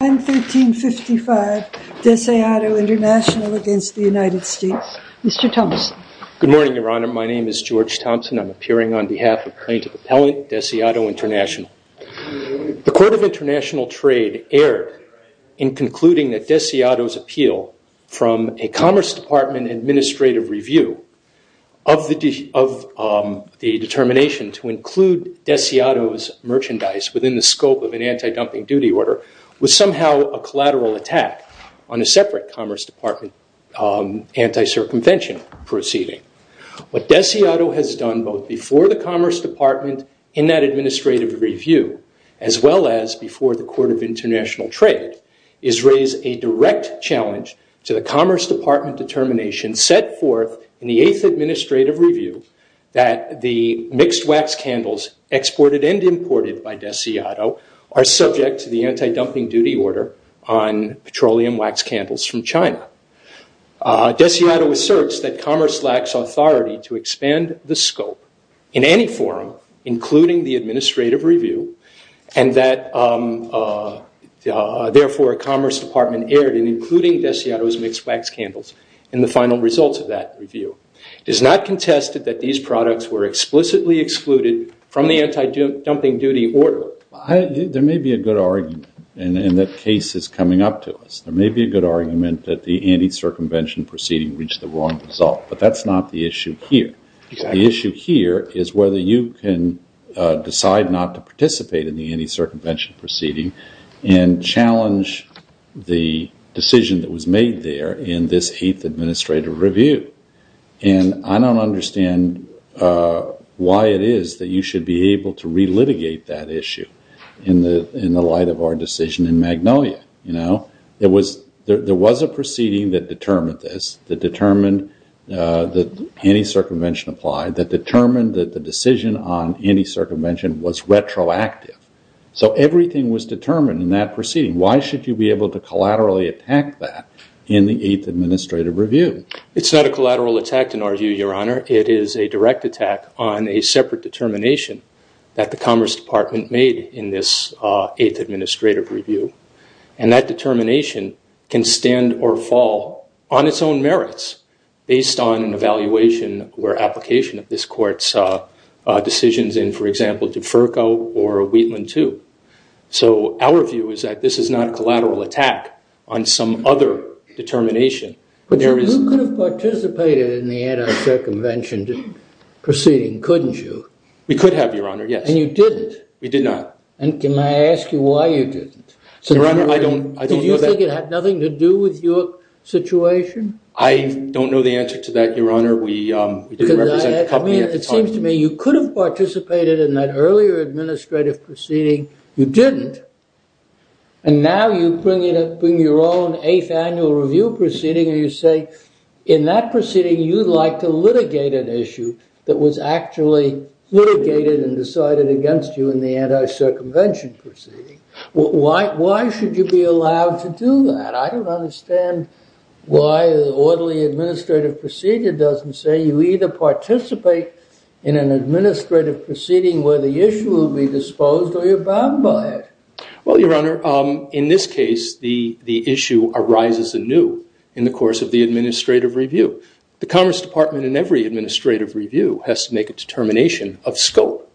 I'm 1355 Deseado International against the United States. Mr. Thompson. Good morning, Your Honor. My name is George Thompson. I'm appearing on behalf of plaintiff appellant Deseado International. The Court of International Trade erred in concluding that Deseado's appeal from a Commerce Department administrative review of the determination to somehow a collateral attack on a separate Commerce Department anti-circumvention proceeding. What Deseado has done both before the Commerce Department in that administrative review as well as before the Court of International Trade is raise a direct challenge to the Commerce Department determination set forth in the eighth administrative review that the mixed order on petroleum wax candles from China. Deseado asserts that Commerce lacks authority to expand the scope in any forum including the administrative review and that therefore Commerce Department erred in including Deseado's mixed wax candles in the final results of that review. It is not contested that these products were explicitly excluded from the to us. There may be a good argument that the anti-circumvention proceeding reached the wrong result but that's not the issue here. The issue here is whether you can decide not to participate in the anti-circumvention proceeding and challenge the decision that was made there in this eighth administrative review. And I don't understand why it is that you should be able to relitigate that issue in the light of our decision in Magnolia. There was a proceeding that determined this, that determined that anti-circumvention applied, that determined that the decision on anti-circumvention was retroactive. So everything was determined in that proceeding. Why should you be able to collaterally attack that in the eighth administrative review? It's not a collateral attack in our view, Your Honor. It is a direct attack on a separate determination that the Commerce Department made in this eighth administrative review. And that determination can stand or fall on its own merits based on an evaluation or application of this court's decisions in, for example, DeFerco or Wheatland 2. So our view is that this is not a collateral attack on some other determination. But you could have participated in the anti-circumvention proceeding, couldn't you? We could have, Your Honor, yes. And you didn't? We did not. And can I ask you why you didn't? Your Honor, I don't know that. Did you think it had nothing to do with your situation? I don't know the answer to that, Your Honor. We didn't represent the company at the time. It seems to me you could have participated in that earlier administrative proceeding. You didn't. And now you bring your own eighth annual review proceeding and you say, in that proceeding, you'd like to litigate an issue that was actually litigated and decided against you in the anti-circumvention proceeding. Why should you be allowed to do that? I don't understand why the orderly administrative procedure doesn't say you either participate in an administrative proceeding where the issue will be disposed or you're bound by it. Well, Your Honor, in this case, the issue arises anew in the course of the administrative review. The Commerce Department in every administrative review has to make a determination of scope.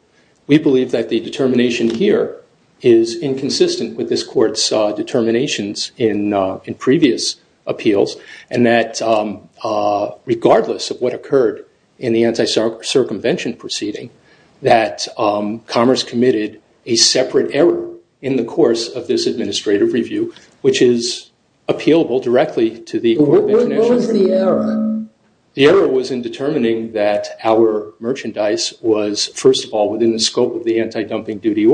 We believe that the determination here is inconsistent with this Court's determinations in previous appeals and that regardless of what occurred in the anti-circumvention proceeding, that Commerce committed a separate error in the course of this administrative review, which is appealable directly to the Court of Intervention. What was the error? The error was in determining that our merchandise was, first of all, within the scope of the anti-dumping duties.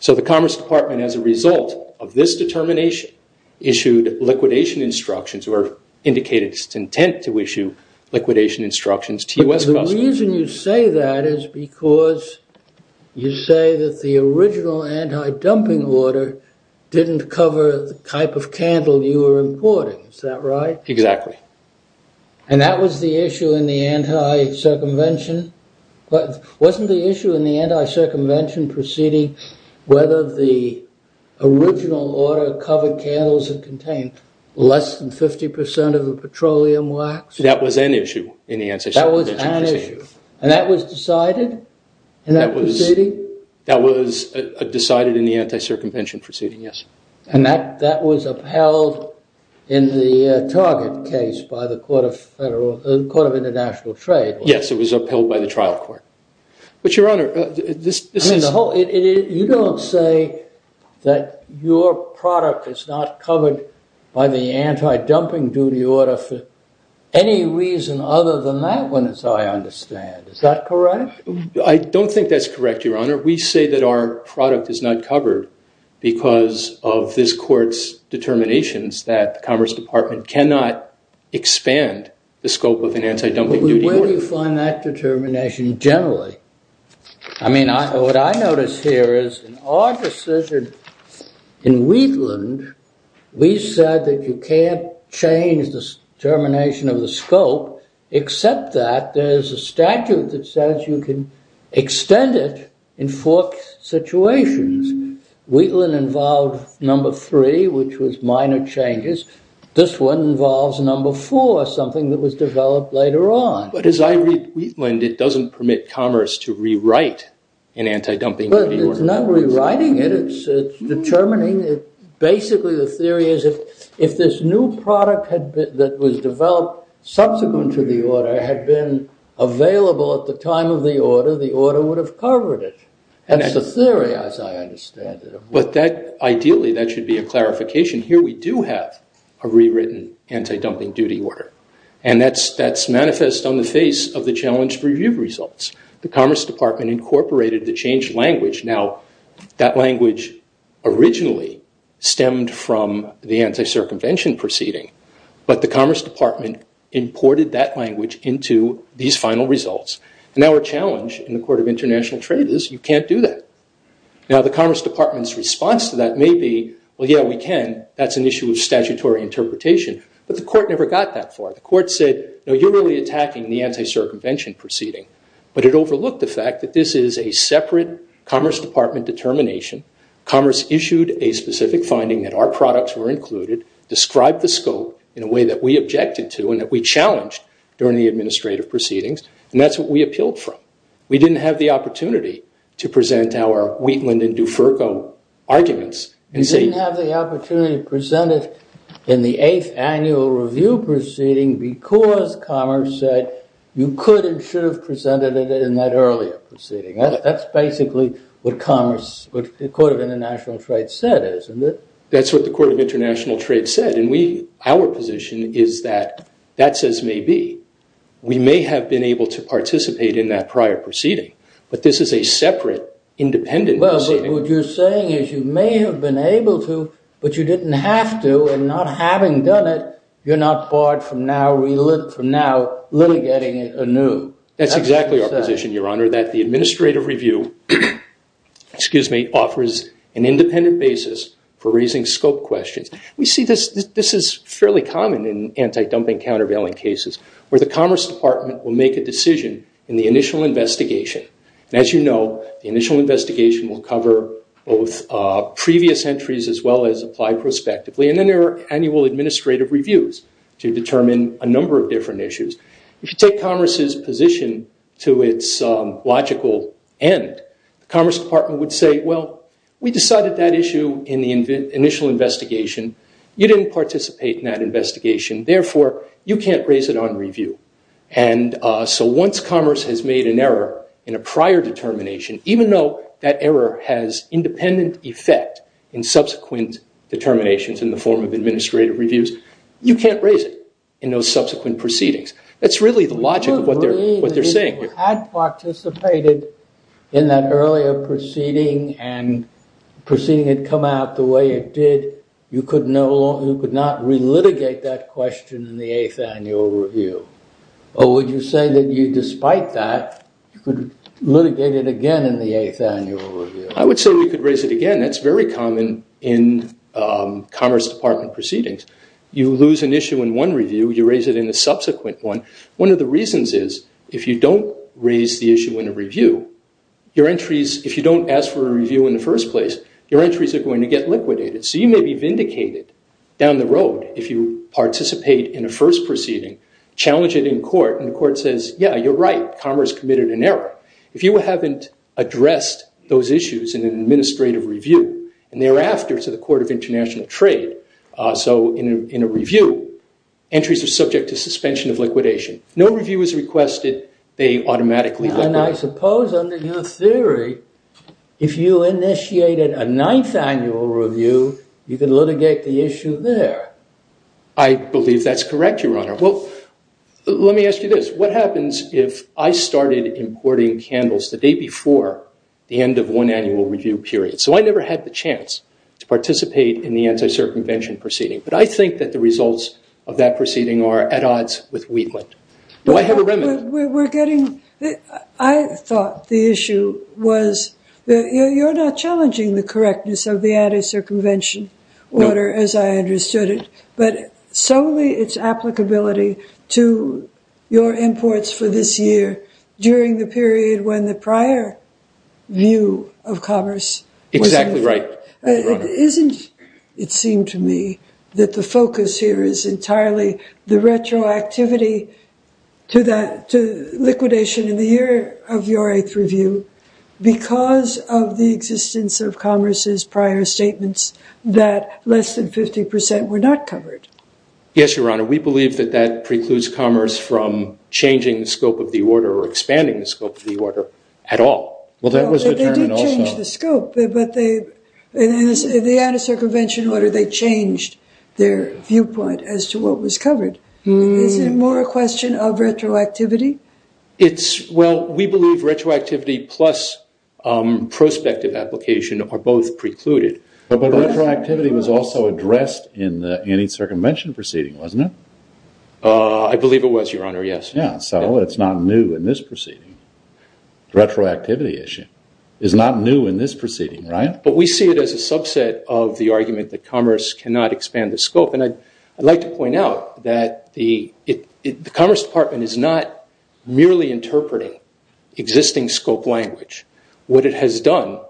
So the Commerce Department, as a result of this determination, issued liquidation instructions or indicated its intent to issue liquidation instructions to US customers. But the reason you say that is because you say that the original anti-dumping order didn't cover the type of candle you were importing. Is that right? Exactly. And that was the issue in the anti-circumvention? Wasn't the issue in the anti-circumvention proceeding whether the original order covered candles that contained less than 50% of the petroleum wax? That was an issue in the anti-circumvention proceeding. And that was decided in that proceeding? That was decided in the anti-circumvention proceeding, yes. And that was upheld in the Target case by the Court of International Trade? Yes, it was upheld by the trial court. But, Your Honor, this is... You don't say that your product is not covered by the anti-dumping duty order for any reason other than that one, as I understand. Is that correct? I don't think that's correct, Your Honor. Your Honor, we say that our product is not covered because of this Court's determinations that the Commerce Department cannot expand the scope of an anti-dumping duty order. Where do you find that determination generally? I mean, what I notice here is in our decision in Wheatland, we said that you can't change the determination of the scope except that there's a statute that says you can extend it in four situations. Wheatland involved number three, which was minor changes. This one involves number four, something that was developed later on. But as I read Wheatland, it doesn't permit Commerce to rewrite an anti-dumping duty order. It's not rewriting it, it's determining it. Basically, the theory is that if this new product that was developed subsequent to the order had been available at the time of the order, the order would have covered it. That's the theory, as I understand it. But ideally, that should be a clarification. Here we do have a rewritten anti-dumping duty order. And that's manifest on the face of the challenge review results. The Commerce Department incorporated the changed language. Now, that language originally stemmed from the anti-circumvention proceeding. But the Commerce Department imported that language into these final results. And our challenge in the Court of International Trade is you can't do that. Now, the Commerce Department's response to that may be, well, yeah, we can, that's an issue of statutory interpretation. But the Court never got that far. The Court said, no, you're really attacking the anti-circumvention proceeding. But it overlooked the fact that this is a separate Commerce Department determination. Commerce issued a specific finding that our products were included, described the scope in a way that we objected to, and that we challenged during the administrative proceedings. And that's what we appealed from. We didn't have the opportunity to present our Wheatland and DuFerco arguments. You didn't have the opportunity to present it in the 8th Annual Review proceeding because Commerce said you could and should have presented it in that earlier proceeding. That's basically what Commerce, what the Court of International Trade said is, isn't it? That's what the Court of International Trade said. And we, our position is that that's as may be. We may have been able to participate in that prior proceeding, but this is a separate, independent proceeding. Well, what you're saying is you may have been able to, but you didn't have to, and not having done it, you're not barred from now litigating anew. That's exactly our position, Your Honor, that the Administrative Review, excuse me, offers an independent basis for raising scope questions. We see this is fairly common in anti-dumping, countervailing cases where the Commerce Department will make a decision in the initial investigation. And as you know, the initial investigation will cover both previous entries as well as applied prospectively. And then there are annual administrative reviews to determine a number of different issues. If you take Commerce's position to its logical end, the Commerce Department would say, well, we decided that issue in the initial investigation. You didn't participate in that investigation. Therefore, you can't raise it on review. And so once Commerce has made an error in a prior determination, even though that error has independent effect in subsequent determinations in the form of administrative reviews, you can't raise it in those subsequent proceedings. That's really the logic of what they're saying here. If you had participated in that earlier proceeding and the proceeding had come out the way it did, you could not relitigate that question in the 8th Annual Review. Or would you say that you, despite that, you could litigate it again in the 8th Annual Review? I would say we could raise it again. That's very common in Commerce Department proceedings. You lose an issue in one review, you raise it in a subsequent one. One of the reasons is, if you don't raise the issue in a review, if you don't ask for a review in the first place, your entries are going to get liquidated. So you may be vindicated down the road if you participate in a first proceeding, challenge it in court, and the court says, yeah, you're right, Commerce committed an error. If you haven't addressed those issues in an administrative review, and thereafter to the Court of International Trade, so in a review, entries are subject to suspension of liquidation. No review is requested, they automatically liquidate. And I suppose under your theory, if you initiated a 9th Annual Review, you could litigate the issue there. I believe that's correct, Your Honor. Well, let me ask you this. What happens if I started importing candles the day before the end of one annual review period? So I never had the chance to participate in the anti-circumvention proceeding. But I think that the results of that proceeding are at odds with Wheatland. Do I have a remnant? I thought the issue was, you're not challenging the correctness of the anti-circumvention order, as I understood it, but solely its applicability to your imports for this year during the period when the prior view of Commerce... Exactly right, Your Honor. Isn't, it seemed to me, that the focus here is entirely the retroactivity to liquidation in the year of your 8th Review, because of the existence of Commerce's prior statements that less than 50% were not covered? Yes, Your Honor. We believe that that precludes Commerce from changing the scope of the order or expanding the scope of the order at all. They did change the scope, but in the anti-circumvention order they changed their viewpoint as to what was covered. Is it more a question of retroactivity? Well, we believe retroactivity plus prospective application are both precluded. But retroactivity was also addressed in the anti-circumvention proceeding, wasn't it? I believe it was, Your Honor, yes. So it's not new in this proceeding. The retroactivity issue is not new in this proceeding, right? But we see it as a subset of the argument that Commerce cannot expand the scope. And I'd like to point out that the Commerce Department is not merely interpreting existing scope language. What it has done,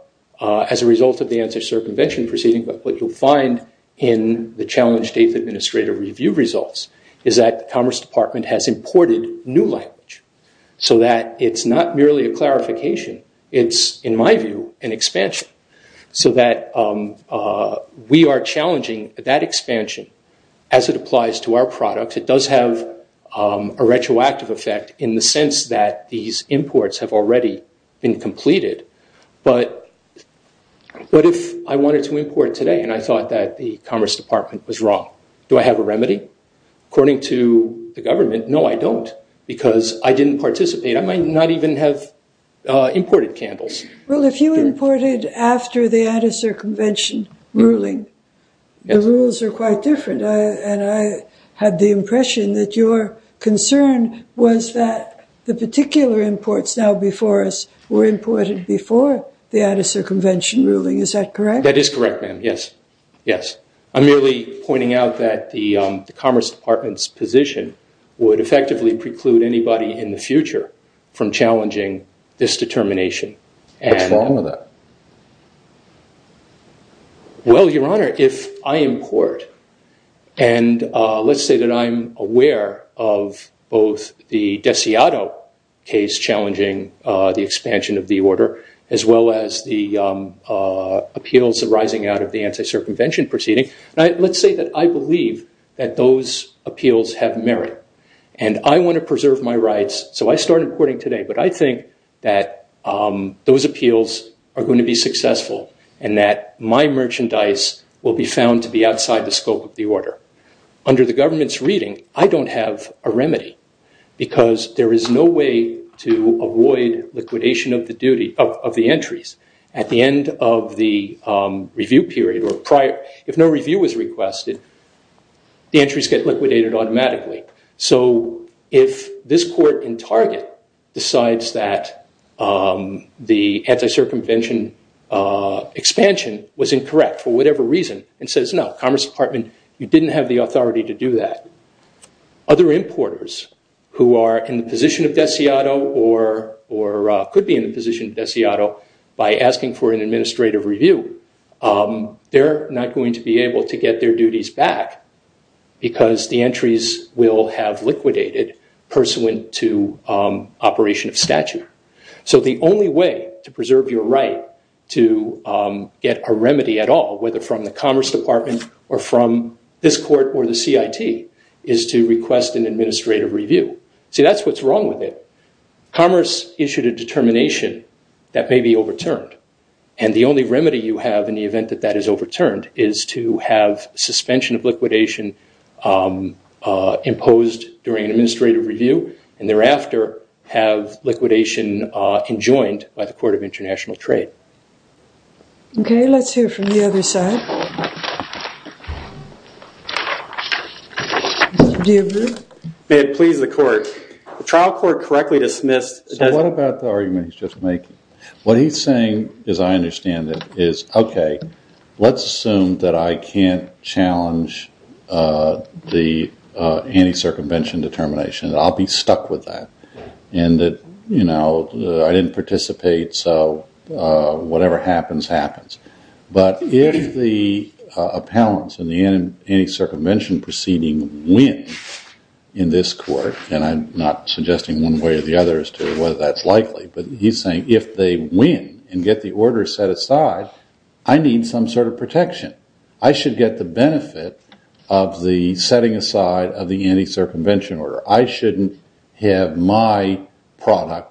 as a result of the anti-circumvention proceeding, but what you'll find in the Challenge Date Administrative Review results, is that the Commerce Department has imported new language, so that it's not merely a clarification. It's, in my view, an expansion. So that we are challenging that expansion as it applies to our products. It does have a retroactive effect in the sense that these imports have already been completed. But what if I wanted to import today and I thought that the Commerce Department was wrong? Do I have a remedy? According to the government, no, I don't, because I didn't participate. I might not even have imported candles. Well, if you imported after the anti-circumvention ruling, the rules are quite different. And I had the impression that your concern was that the particular imports now before us were imported before the anti-circumvention ruling. Is that correct? That is correct, ma'am. Yes. Yes. I'm merely pointing out that the Commerce Department's position would effectively preclude anybody in the future from challenging this determination. What's wrong with that? Well, Your Honor, if I import, and let's say that I'm aware of both the Desiato case challenging the expansion of the order, as well as the appeals arising out of the anti-circumvention proceeding, let's say that I believe that those appeals have merit, and I want to preserve my rights, so I start importing today, but I think that those appeals are going to be successful, and that my merchandise will be found to be outside the scope of the order. Under the government's reading, I don't have a remedy, because there is no way to avoid liquidation of the entries. At the end of the review period or prior, if no review was requested, the entries get liquidated automatically. So if this court in Target decides that the anti-circumvention expansion was incorrect for whatever reason, and says, no, Commerce Department, you didn't have the authority to do that, other importers who are in the position of Desiato, or could be in the position of Desiato, by asking for an administrative review, they're not going to be able to get their duties back, because the entries will have liquidated, pursuant to operation of statute. So the only way to preserve your right to get a remedy at all, whether from the Commerce Department, or from this court, or the CIT, is to request an administrative review. See, that's what's wrong with it. Commerce issued a determination that may be overturned, and the only remedy you have in the event that that is overturned, is to have suspension of liquidation imposed during an administrative review, and thereafter, have liquidation enjoined by the Court of International Trade. Okay, let's hear from the other side. May it please the Court, the trial court correctly dismissed So what about the argument he's just making? What he's saying, as I understand it, is, okay, let's assume that I can't challenge the anti-circumvention determination, that I'll be stuck with that, and that, you know, I didn't participate, so whatever happens, happens. But if the appellants in the anti-circumvention proceeding win, in this court, and I'm not suggesting one way or the other as to whether that's likely, but he's saying, if they win, and get the order set aside, I need some sort of protection. I should get the benefit of the setting aside of the anti-circumvention order. I shouldn't have my product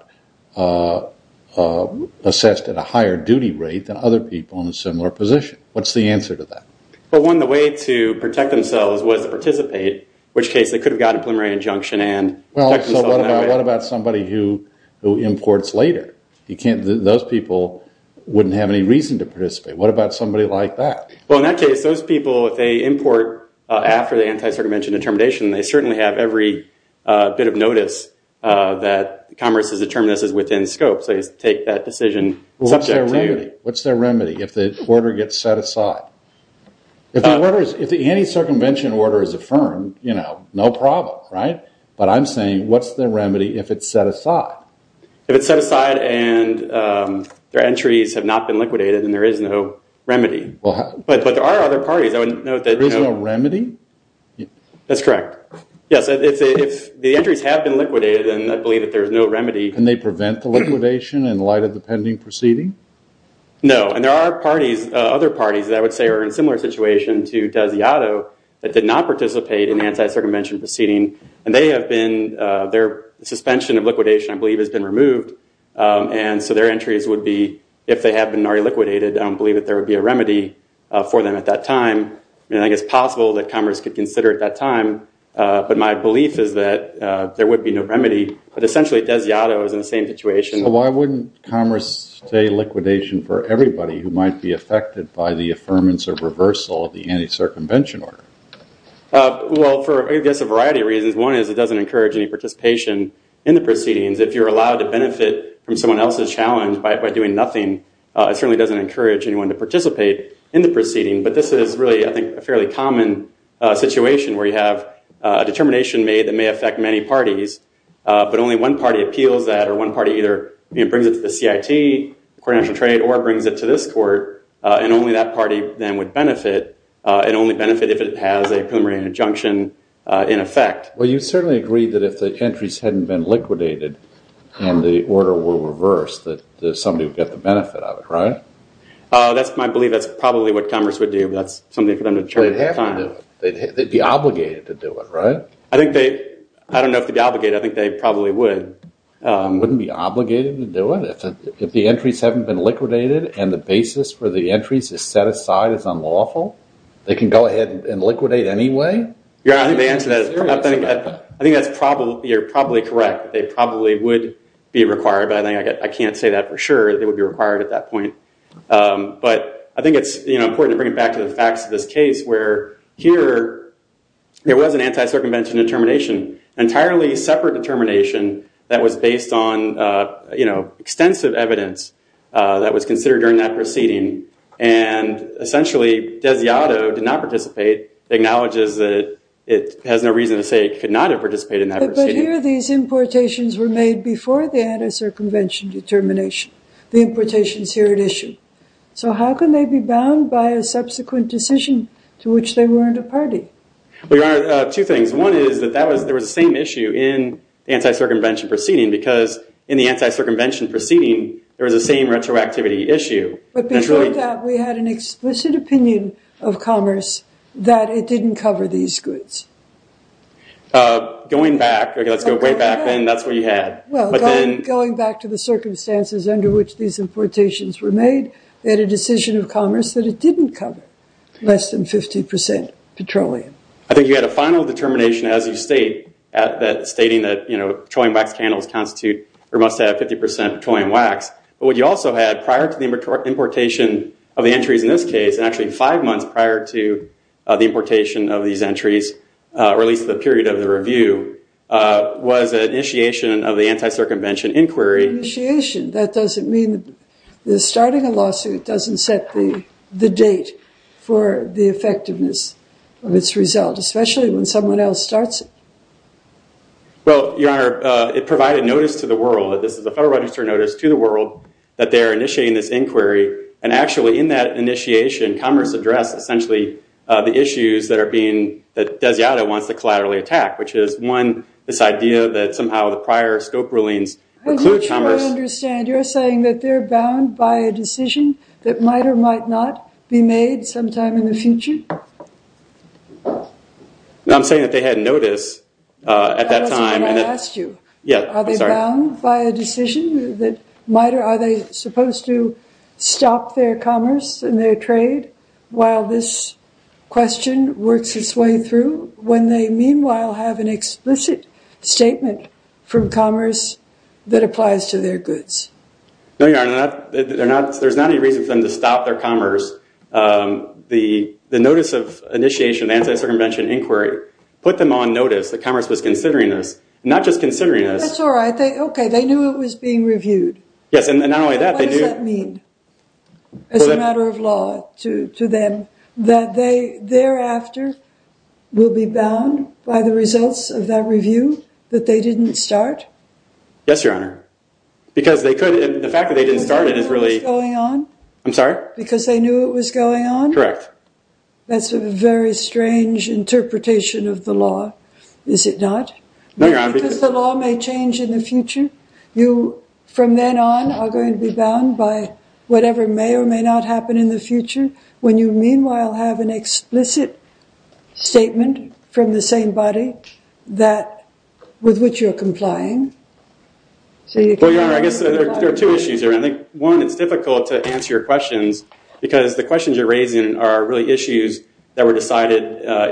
assessed at a higher duty rate than other people in a similar position. What's the answer to that? Well, one, the way to protect themselves was to participate, which case they could have gotten a preliminary injunction and Well, so what about somebody who imports later? Those people wouldn't have any reason to participate. What about somebody like that? Well, in that case, those people, if they import after the anti-circumvention determination, they certainly have every bit of notice that Congress has determined this is within scope, so they take that decision subject to you. What's their remedy if the order gets set aside? If the anti-circumvention order is affirmed, no problem, right? But I'm saying, what's their remedy if it's set aside? If it's set aside and their entries have not been liquidated and there is no remedy. But there are other parties. There is no remedy? That's correct. Yes, if the entries have been liquidated and I believe that there is no remedy. Can they prevent the liquidation in light of the pending proceeding? No, and there are other parties that I would say are in a similar situation to Desiato that did not participate in the anti-circumvention proceeding. And they have been, their suspension of liquidation, I believe, has been removed. And so their entries would be, if they have been already liquidated, I don't believe that there would be a remedy for them at that time. I mean, I think it's possible that Congress could consider it at that time. But my belief is that there would be no remedy. But essentially, Desiato is in the same situation. So why wouldn't Congress say liquidation for everybody who might be affected by the affirmance of reversal of the anti-circumvention order? Well, for, I guess, a variety of reasons. One is it doesn't encourage any participation in the proceedings. If you're allowed to benefit from someone else's challenge by doing nothing, it certainly doesn't encourage anyone to participate in the proceeding. But this is really, I think, a fairly common situation where you have a determination made that may affect many parties. But only one party appeals that, or one party either brings it to the CIT, the Coordination of Trade, or brings it to this court. And only that party then would benefit, and only benefit if it has a preliminary injunction in effect. Well, you certainly agree that if the entries hadn't been liquidated and the order were reversed, that somebody would get the benefit of it, right? That's my belief. That's probably what Congress would do. But that's something for them to determine at that time. They'd have to do it. They'd be obligated to do it, right? I don't know if they'd be obligated. I think they probably would. Wouldn't be obligated to do it? If the entries haven't been liquidated and the basis for the entries is set aside as unlawful, they can go ahead and liquidate anyway? Yeah, I think they answered that. I think that's probably correct. They probably would be required. But I can't say that for sure that they would be required at that point. But I think it's important to bring it back to the facts of this case where here there was an anti-circumvention determination, an entirely separate determination that was based on extensive evidence that was considered during that proceeding. And essentially, Desiato did not participate, acknowledges that it has no reason to say he could not have participated in that proceeding. But here these importations were made before the anti-circumvention determination, the importations here at issue. So how can they be bound by a subsequent decision to which they weren't a party? Your Honor, two things. One is that there was the same issue in the anti-circumvention proceeding because in the anti-circumvention proceeding there was the same retroactivity issue. But before that we had an explicit opinion of Commerce that it didn't cover these goods. Going back, let's go way back then, that's what you had. Well, going back to the circumstances under which these importations were made, they had a decision of Commerce that it didn't cover less than 50% petroleum. I think you had a final determination as you state, stating that petroleum wax candles must have 50% petroleum wax. But what you also had prior to the importation of the entries in this case, and actually five months prior to the importation of these entries, or at least the period of the review, was an initiation of the anti-circumvention inquiry. Initiation, that doesn't mean, starting a lawsuit doesn't set the date for the effectiveness of its result, especially when someone else starts it. Well, Your Honor, it provided notice to the world, this is a Federal Register notice to the world, that they are initiating this inquiry, and actually in that initiation Commerce addressed essentially the issues that Desiada wants to collaterally attack, which is, one, this idea that somehow the prior scope rulings You're saying that they're bound by a decision that might or might not be made sometime in the future? No, I'm saying that they had notice at that time. That's what I asked you. Yeah, I'm sorry. Are they bound by a decision that might or are they supposed to stop their commerce and their trade while this question works its way through, when they meanwhile have an explicit statement from Commerce that applies to their goods? No, Your Honor. There's not any reason for them to stop their commerce. The notice of initiation of the Anti-Circumvention Inquiry put them on notice that Commerce was considering this, not just considering this. That's all right. Okay, they knew it was being reviewed. Yes, and not only that. What does that mean as a matter of law to them, that thereafter will be bound by the results of that review that they didn't start? Yes, Your Honor. The fact that they didn't start it is really... Because they knew it was going on? I'm sorry? Because they knew it was going on? Correct. That's a very strange interpretation of the law, is it not? No, Your Honor. Because the law may change in the future? You, from then on, are going to be bound by whatever may or may not happen in the future when you meanwhile have an explicit statement from the same body with which you're complying? Well, Your Honor, I guess there are two issues here. One, it's difficult to answer your questions because the questions you're raising are really issues that were decided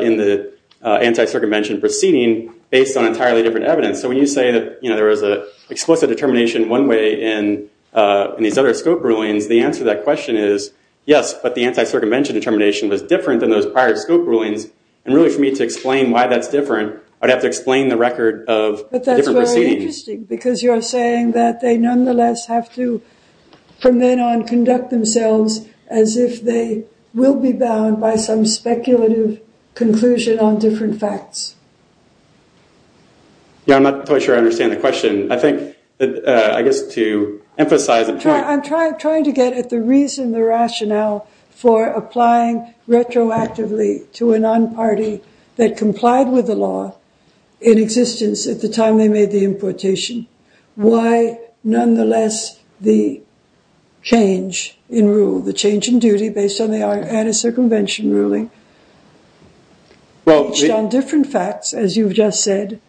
in the anti-circumvention proceeding based on entirely different evidence. So when you say that there was an explicit determination one way in these other scope rulings, the answer to that question is yes, but the anti-circumvention determination was different than those prior scope rulings. And really, for me to explain why that's different, I'd have to explain the record of a different proceeding. But that's very interesting because you're saying that they nonetheless have to, from then on, conduct themselves as if they will be bound by some speculative conclusion on different facts. Yeah, I'm not quite sure I understand the question. I think that, I guess, to emphasize a point... I'm trying to get at the reason, the rationale, for applying retroactively to a non-party that complied with the law in existence at the time they made the importation. Why, nonetheless, the change in rule, the change in duty based on the anti-circumvention ruling, based on different facts, as you've just said,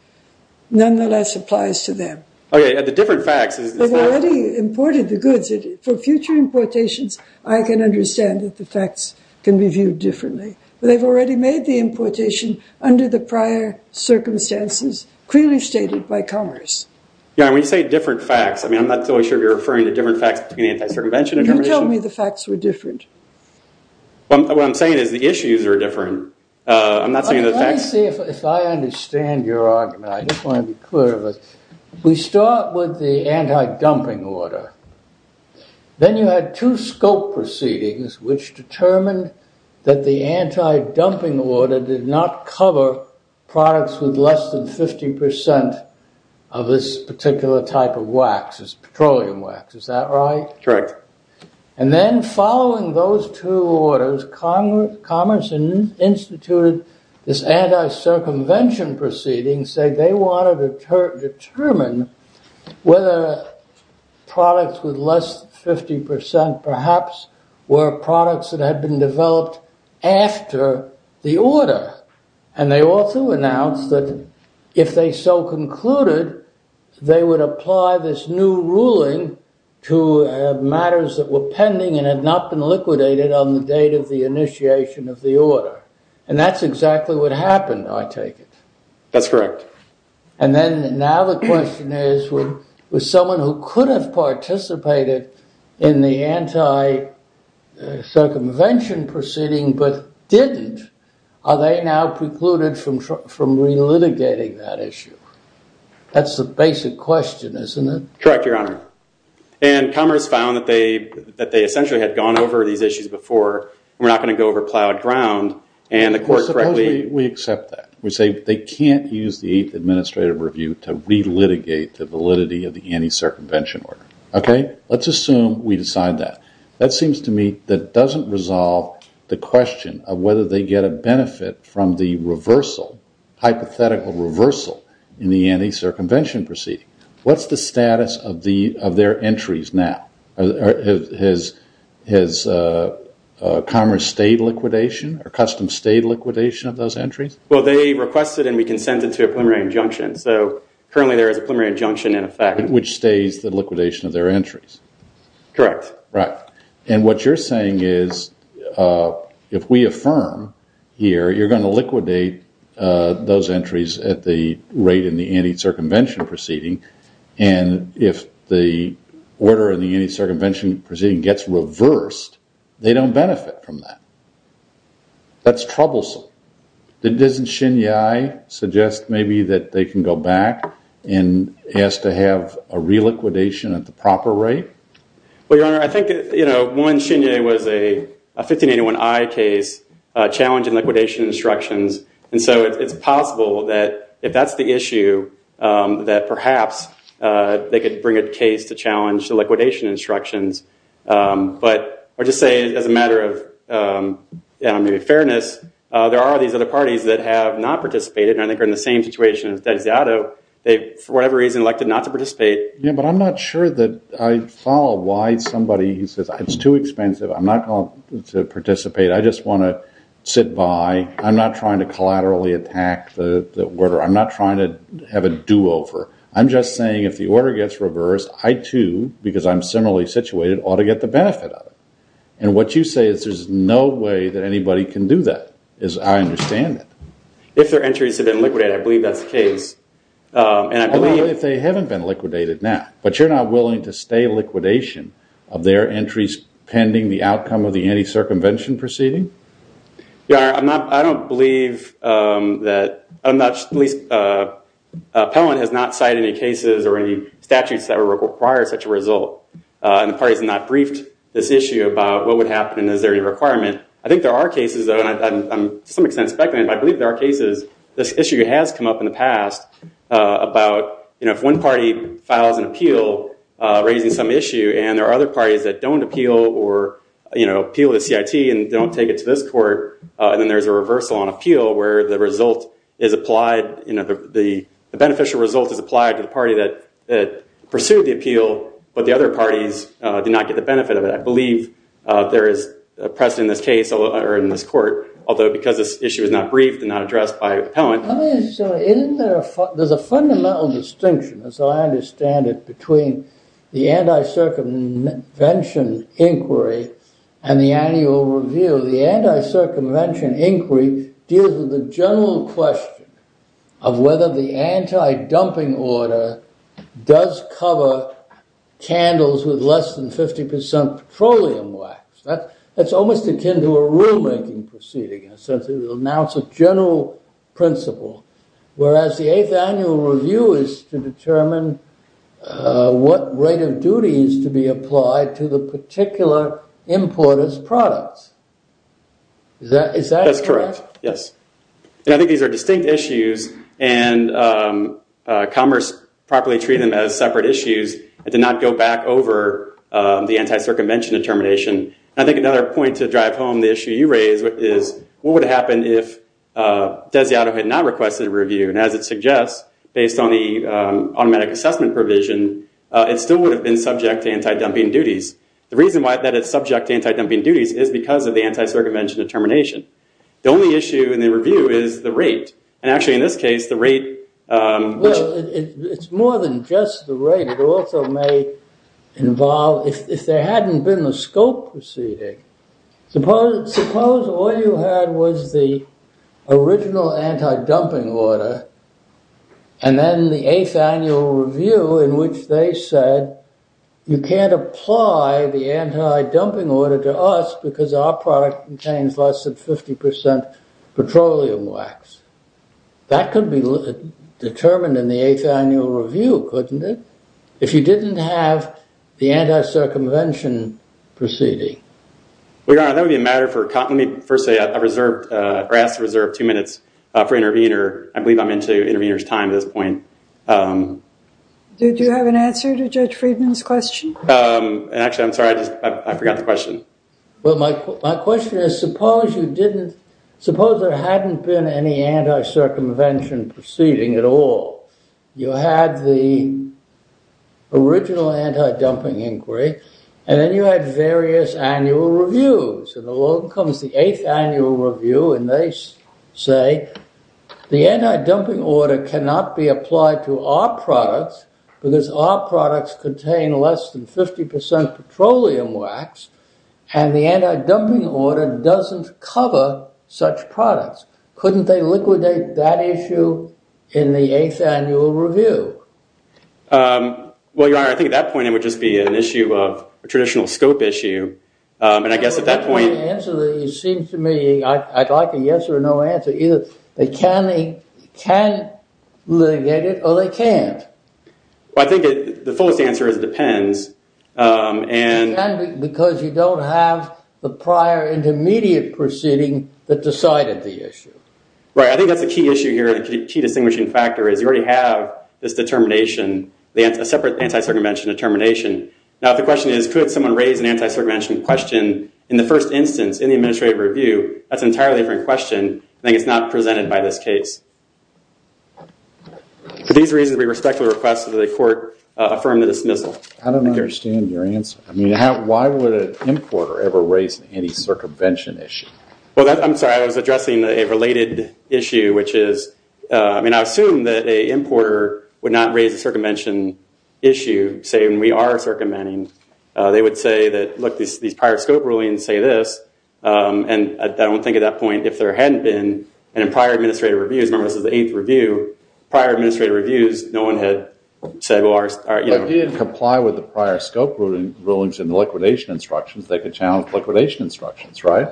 nonetheless applies to them. Okay, and the different facts... They've already imported the goods. For future importations, I can understand that the facts can be viewed differently. But they've already made the importation under the prior circumstances clearly stated by Commerce. Yeah, and when you say different facts, I mean, I'm not totally sure you're referring to different facts between the anti-circumvention determination. You told me the facts were different. What I'm saying is the issues are different. I'm not saying the facts... Let me see if I understand your argument. I just want to be clear of it. We start with the anti-dumping order. Then you had two scope proceedings which determined that the anti-dumping order did not cover products with less than 50% of this particular type of wax, this petroleum wax. Is that right? Correct. And then following those two orders, Commerce instituted this anti-circumvention proceeding and said they wanted to determine whether products with less than 50%, perhaps, were products that had been developed after the order. And they also announced that if they so concluded, they would apply this new ruling to matters that were pending and had not been liquidated on the date of the initiation of the order. And that's exactly what happened, I take it. That's correct. And then now the question is, was someone who could have participated in the anti-circumvention proceeding but didn't, are they now precluded from relitigating that issue? That's the basic question, isn't it? Correct, Your Honor. And Commerce found that they essentially had gone over these issues before and were not going to go over plowed ground and the court correctly... Supposedly, we accept that. We say they can't use the 8th Administrative Review to relitigate the validity of the anti-circumvention order. Okay, let's assume we decide that. That seems to me that doesn't resolve the question of whether they get a benefit from the reversal, hypothetical reversal, in the anti-circumvention proceeding. What's the status of their entries now? Has Commerce stayed liquidation, or Customs stayed liquidation of those entries? Well, they requested and we consented to a preliminary injunction. So currently there is a preliminary injunction in effect. Which stays the liquidation of their entries. Correct. Right. And what you're saying is, if we affirm here, you're going to liquidate those entries at the rate in the anti-circumvention proceeding, and if the order in the anti-circumvention proceeding gets reversed, they don't benefit from that. That's troublesome. Doesn't Shinyai suggest maybe that they can go back and ask to have a re-liquidation at the proper rate? Well, Your Honor, I think, you know, one, Shinyai was a 1581I case, challenging liquidation instructions. And so it's possible that, if that's the issue, that perhaps they could bring a case to challenge the liquidation instructions. But, I'll just say, as a matter of fairness, there are these other parties that have not participated, and I think are in the same situation as Dezado. They, for whatever reason, elected not to participate. Yeah, but I'm not sure that I follow why somebody, he says, it's too expensive, I'm not going to participate, I just want to sit by. I'm not trying to collaterally attack the order. I'm not trying to have a do-over. I'm just saying, if the order gets reversed, I too, because I'm similarly situated, ought to get the benefit of it. And what you say is, there's no way that anybody can do that, as I understand it. If their entries have been liquidated, I believe that's the case. Only if they haven't been liquidated now. But you're not willing to stay liquidation of their entries pending the outcome of the anti-circumvention proceeding? Yeah, I don't believe that, at least, the appellant has not cited any cases or any statutes that would require such a result. And the parties have not briefed this issue about what would happen and is there a requirement. I think there are cases, and I'm to some extent speculating, but I believe there are cases, this issue has come up in the past, about if one party files an appeal raising some issue, and there are other parties that don't appeal or appeal to CIT and don't take it to this court, then there's a reversal on appeal where the result is applied, the beneficial result is applied to the party that pursued the appeal, but the other parties did not get the benefit of it. I believe there is precedent in this case, or in this court, although because this issue is not briefed and not addressed by an appellant. There's a fundamental distinction as I understand it, between the anti-circumvention inquiry and the annual review. The anti-circumvention inquiry deals with the general question of whether the anti-dumping order does cover candles with less than 50% petroleum wax. That's almost akin to a rulemaking proceeding in the sense that it will announce a general principle, whereas the 8th annual review is to determine of duty is to be applied to the particular importer's products. Is that correct? I think these are distinct issues and Commerce properly treated them as separate issues and did not go back over the anti-circumvention determination. I think another point to drive home the issue you raised is what would happen if Desiato had not requested a review, and as it suggests, based on the automatic assessment provision, it still would have been subject to anti-dumping duties. The reason that it's subject to anti-dumping duties is because of the anti-circumvention determination. The only issue in the review is the rate, and actually in this case, the rate... it's more than just the rate. It also may involve if there hadn't been the scope proceeding, suppose all you had was the original anti-dumping order and then the 8th annual review in which they said you can't apply the anti-dumping order to us because our product contains less than 50% petroleum wax. That could be determined in the 8th annual review, couldn't it? If you didn't have the anti-circumvention proceeding. Well, Your Honor, that would be a matter for... Let me first say I asked to reserve two minutes for intervener. I believe I'm into intervener's time at this point. Did you have an answer to Judge Friedman's question? Actually, I'm sorry. I forgot the question. My question is suppose you didn't... suppose there hadn't been any anti-circumvention proceeding at all. You had the original anti-dumping inquiry and then you had various annual reviews and along comes the 8th annual review and they say the anti-dumping order cannot be applied to our products because our products contain less than 50% petroleum wax and the anti-dumping order doesn't cover such products. Couldn't they liquidate that issue in the 8th annual review? Well, Your Honor, I think at that point it would just be an issue of a traditional scope issue and I guess at that point... It seems to me I'd like a yes or no answer. Either they can litigate it or they can't. Well, I think the fullest answer is it depends and... You can because you don't have the prior intermediate proceeding that decided the issue. Right. I think that's a key issue here and a key distinguishing factor is you already have this determination, a separate anti-circumvention determination. Now, if the question is could someone raise an anti-circumvention question in the first instance in the administrative review, that's an entirely different question. I think it's not presented by this case. For these reasons, we respectfully request that the court affirm the dismissal. I don't understand your answer. Why would an importer ever raise an anti-circumvention issue? I'm sorry. I was addressing a related issue, which is... I assume that an importer would not raise a circumvention issue saying we are circumventing. They would say that, look, these prior scope rulings say this and I don't think at that point if there hadn't been... In prior administrative reviews, remember this is the 8th review, prior administrative reviews, no one had said... But he didn't comply with the prior scope rulings in the liquidation instructions. They could challenge liquidation instructions, right?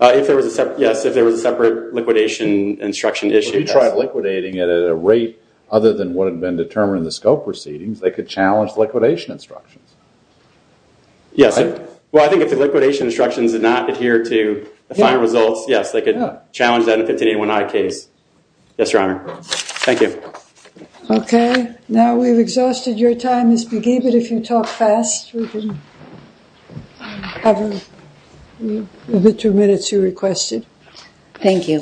Yes, if there was a separate liquidation instruction issue. If you tried liquidating it at a rate other than what had been determined in the scope proceedings, they could challenge liquidation instructions. Yes. Well, I think if the liquidation instructions did not adhere to the final results, yes, they could challenge that in a 1581I case. Yes, Your Honor. Thank you. Okay. Now we've exhausted your time, Ms. Begee, but if you want to talk fast, we can cover the two minutes you requested. Thank you.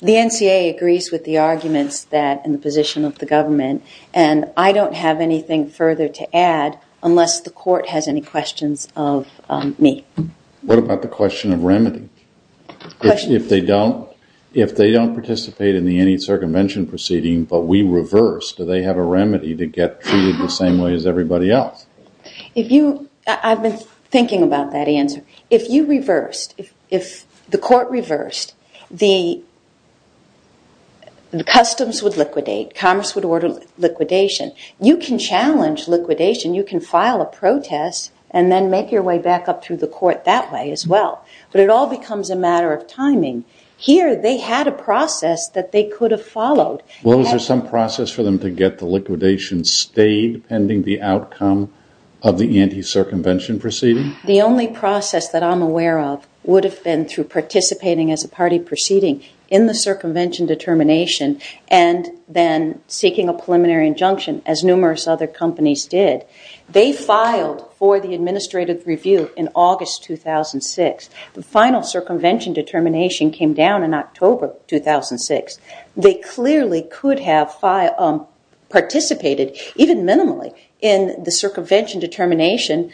The NCA agrees with the arguments that in the position of the government and I don't have anything further to add unless the court has any questions of me. What about the question of remedy? If they don't participate in the anti-circumvention proceeding but we reverse, do they have a remedy to get treated the same way as everybody else? I've been thinking about that answer. If you reversed, if the court reversed, the customs would liquidate, commerce would order liquidation. You can challenge liquidation. You can file a protest and then make your way back up through the court that way as well, but it all becomes a matter of timing. Here they had a process that they could have followed. Was there some process for them to get the liquidation stayed pending the outcome of the anti- circumvention proceeding? The only process that I'm aware of would have been through participating as a party proceeding in the circumvention determination and then seeking a preliminary injunction as numerous other companies did. They filed for the administrative review in August 2006. The final circumvention determination came down in October 2006. They clearly could have participated even minimally in the circumvention determination,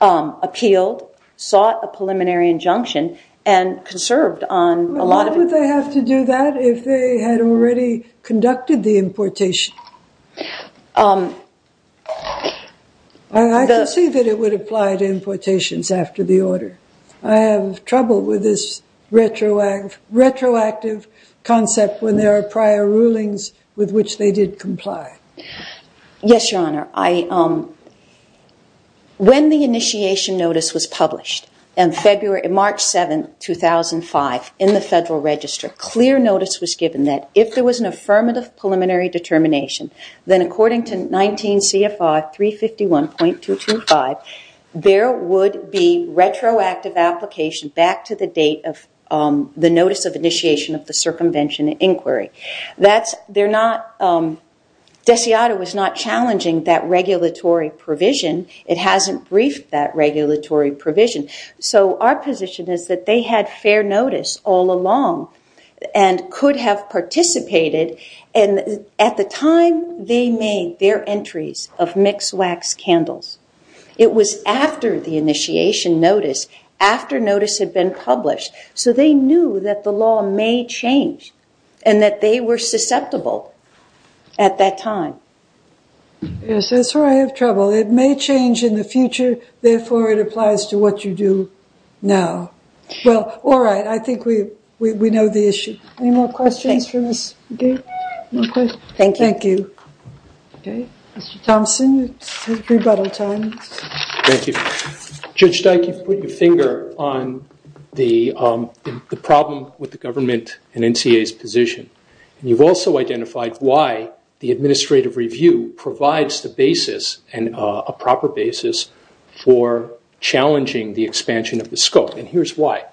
appealed, sought a preliminary injunction and conserved on a lot of... Why would they have to do that if they had already conducted the importation? I can see that it would apply to importations after the order. I have trouble with this retroactive concept when there are prior rulings with which they did comply. Yes, Your Honor. When the initiation notice was published in February... in March 7, 2005 in the Federal Register, clear notice was given that if there was an affirmative preliminary determination, then according to 19 CFR 351.225, there would be retroactive application back to the date of the notice of initiation of the circumvention inquiry. They're not... Desiada was not challenging that regulatory provision. It hasn't briefed that regulatory provision. So our position is that they had fair notice all along and could have participated and at the time they made their entries of mixed wax candles. It was after the initiation notice. After notice had been published. So they knew that the law may change and that they were susceptible at that time. Yes, that's where I have trouble. It may change in the future, therefore it applies to what you do now. Well, all right. I think we know the issue. Any more questions from us? Thank you. Mr. Thompson, it's rebuttal time. Thank you. Judge Dike, you've put your finger on the problem with the government and NCA's position. You've also identified why the administrative review provides the basis and a proper basis for challenging the expansion of the scope and here's why.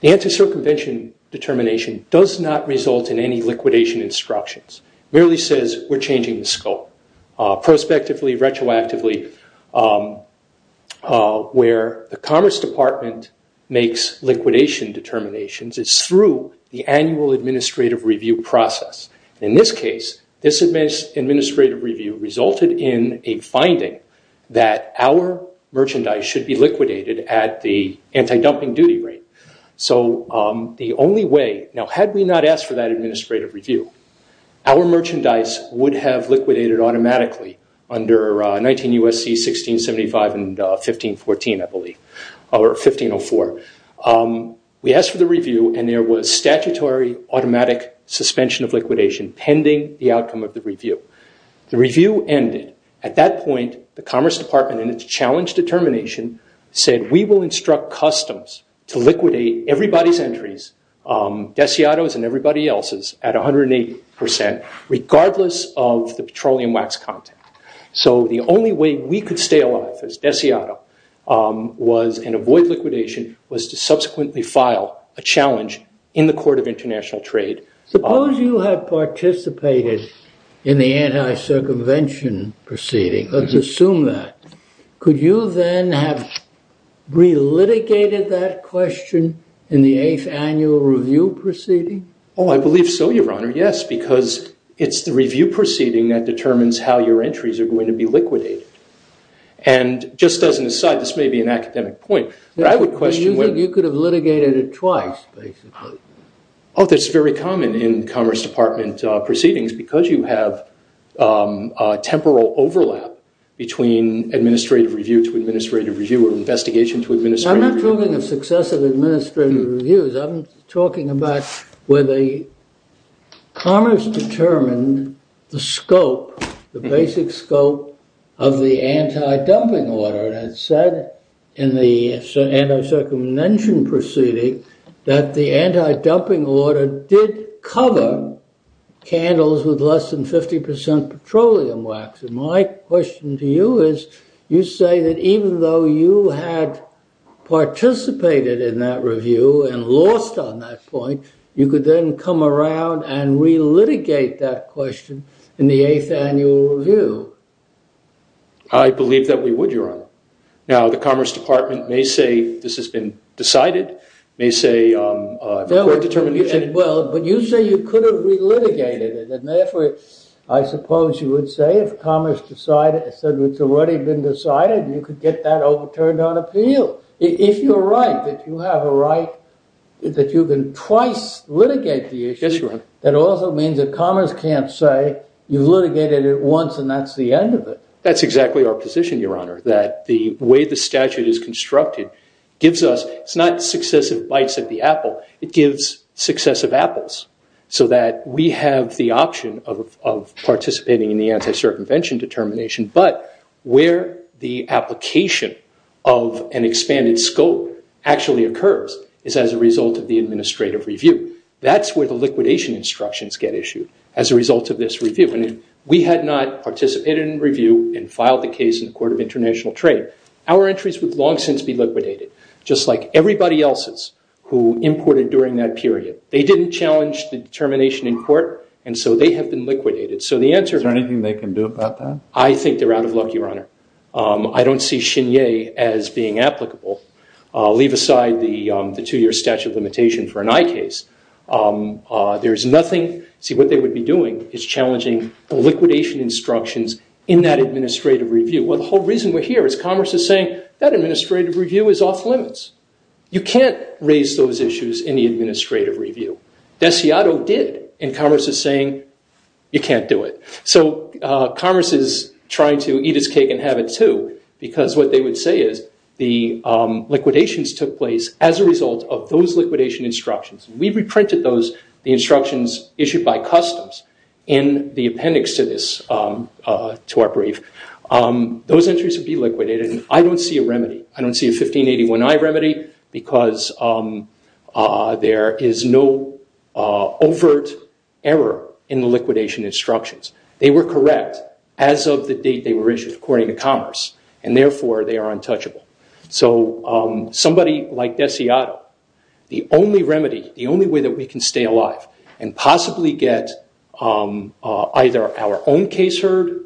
The anti-circumvention determination does not result in any liquidation instructions. It merely says we're changing the scope. Prospectively, retroactively, where the Commerce Department makes liquidation determinations is through the annual administrative review process. In this case, this administrative review resulted in a finding that our merchandise should be liquidated at the anti-dumping duty rate. So the only way, now had we not asked for that administrative review, our merchandise would have liquidated automatically under 19 U.S.C. 1675 and 1514, I believe, or 1504. We asked for the review and there was statutory automatic suspension of liquidation pending the outcome of the review. The review ended. At that point, the Commerce Department in its challenge determination said we will instruct customs to liquidate everybody's entries, Desiato's and everybody else's at 108%, regardless of the petroleum wax content. So the only way we could stay alive as Desiato was and avoid liquidation was to subsequently file a challenge in the Court of International Trade. Suppose you have participated in the anti-circumvention proceeding. Let's assume that. Could you then have relitigated that question in the 8th annual review proceeding? Oh, I believe so, Your Honor. Yes, because it's the review proceeding that determines how your entries are going to be liquidated. And just as an aside, this may be an academic point, but I would question whether... You could have litigated it twice, basically. Oh, that's very common in Commerce Department proceedings because you have temporal overlap between administrative review to administrative review or investigation to administrative review. I'm not talking of successive administrative reviews. I'm talking about where the Commerce determined the scope, the basic scope, of the anti-dumping order that said in the anti-circumvention proceeding that the anti-dumping order did cover candles with less than 50% petroleum wax. And my question to you is you say that even though you had participated in that review and lost on that point, you could then come around and relitigate that question in the 8th annual review. I believe that we would, Your Honor. Now, the Commerce Department may say this has been decided, may say... Well, but you say you could have relitigated it, and therefore I suppose you would say if Commerce decided, said it's already been decided, you could get that overturned on appeal. If you're right, if you have a right that you can twice litigate the issue, that also means that Commerce can't say you've litigated it once and that's the end of it. That's exactly our position, Your Honor, that the way the statute is constructed gives us, it's not successive bites at the apple, it gives successive apples so that we have the option of participating in the anti-circumvention determination, but where the application of an expanded scope actually occurs is as a result of the administrative review. That's where the liquidation instructions get issued as a result of this review, and if we had not participated in the review and filed the case in the Court of International Trade, our entries would long since be liquidated, just like everybody else's who imported during that period. They didn't challenge the determination in Is there anything they can do about that? I think they're out of luck, Your Honor. I don't see Chenier as being applicable. I'll leave aside the two-year statute of limitation for an eye case. There's nothing, see what they would be doing is challenging the liquidation instructions in that administrative review. Well, the whole reason we're here is Commerce is saying that administrative review is off limits. You can't raise those issues in the administrative review. Desiato did, and Commerce is saying you can't do it. So Commerce is trying to eat its cake and have it too because what they would say is the liquidations took place as a result of those liquidation instructions. We reprinted those, the instructions issued by Customs in the appendix to this to our brief. Those entries would be liquidated, and I don't see a remedy. I don't see a 1581I remedy because there is no overt error in the liquidation instructions. They were correct as of the date they were issued according to Commerce, and therefore they are untouchable. So somebody like Desiato, the only remedy, the only way that we can stay alive and possibly get either our own case heard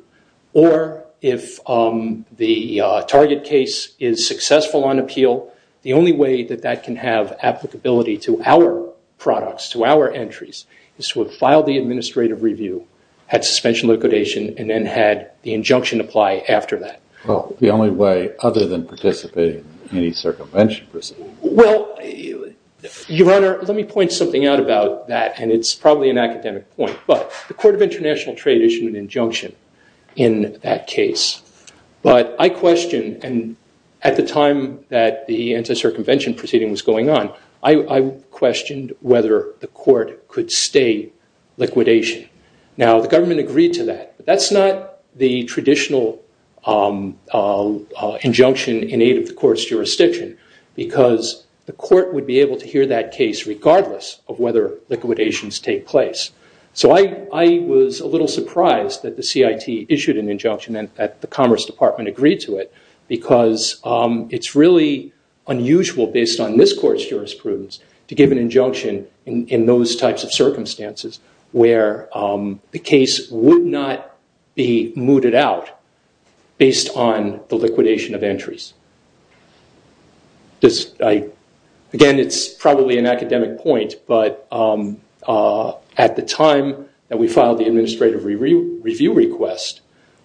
or if the target case is successful on appeal, the only way that that can have applicability to our products, to our entries is to have filed the administrative review, had suspension liquidation and then had the injunction apply after that. Well, the only way other than participating in any circumvention proceedings. Well, Your Honor, let me point something out about that, and it's probably an academic point, but the Court of International Trade issued an injunction in that case, but I question, and at the time that the anti-circumvention proceeding was going on, I questioned whether the Court could stay liquidation. Now, the government agreed to that, but that's not the traditional injunction in aid of the Court's jurisdiction because the Court would be able to hear that case regardless of whether liquidations take place. So I was a little surprised that the CIT issued an injunction and that the Commerce Department agreed to it because it's really unusual based on this Court's jurisprudence to give an injunction in those types of circumstances where the case would not be mooted out based on the liquidation of entries. Again, it's probably an academic point, but at the time that we filed the administrative review request,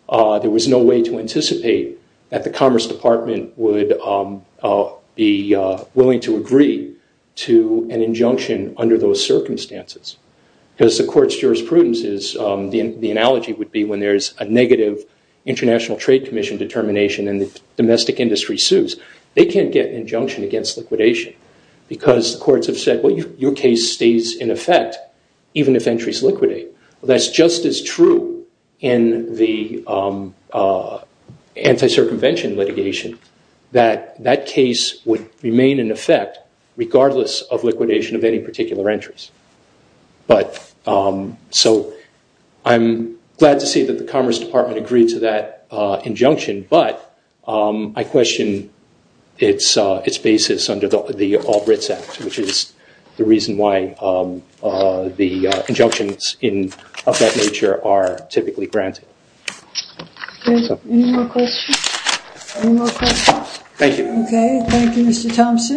there was no way to anticipate that the Commerce Department would be willing to agree to an injunction under those circumstances because the Court's jurisprudence is, the analogy would be, when there's a negative International Trade Commission determination and the domestic industry sues, they can't get an injunction against liquidation because the courts have said, well, your case stays in effect even if entries liquidate. Well, that's just as true in the anti-circumvention litigation that that case would remain in effect regardless of liquidation of any particular entries. I'm glad to see that the Commerce Department agreed to that injunction, but I question its basis under the Albritts Act, which is the reason why the injunctions of that nature are typically granted. Any more questions? Any more questions? Thank you, Mr. Thompson.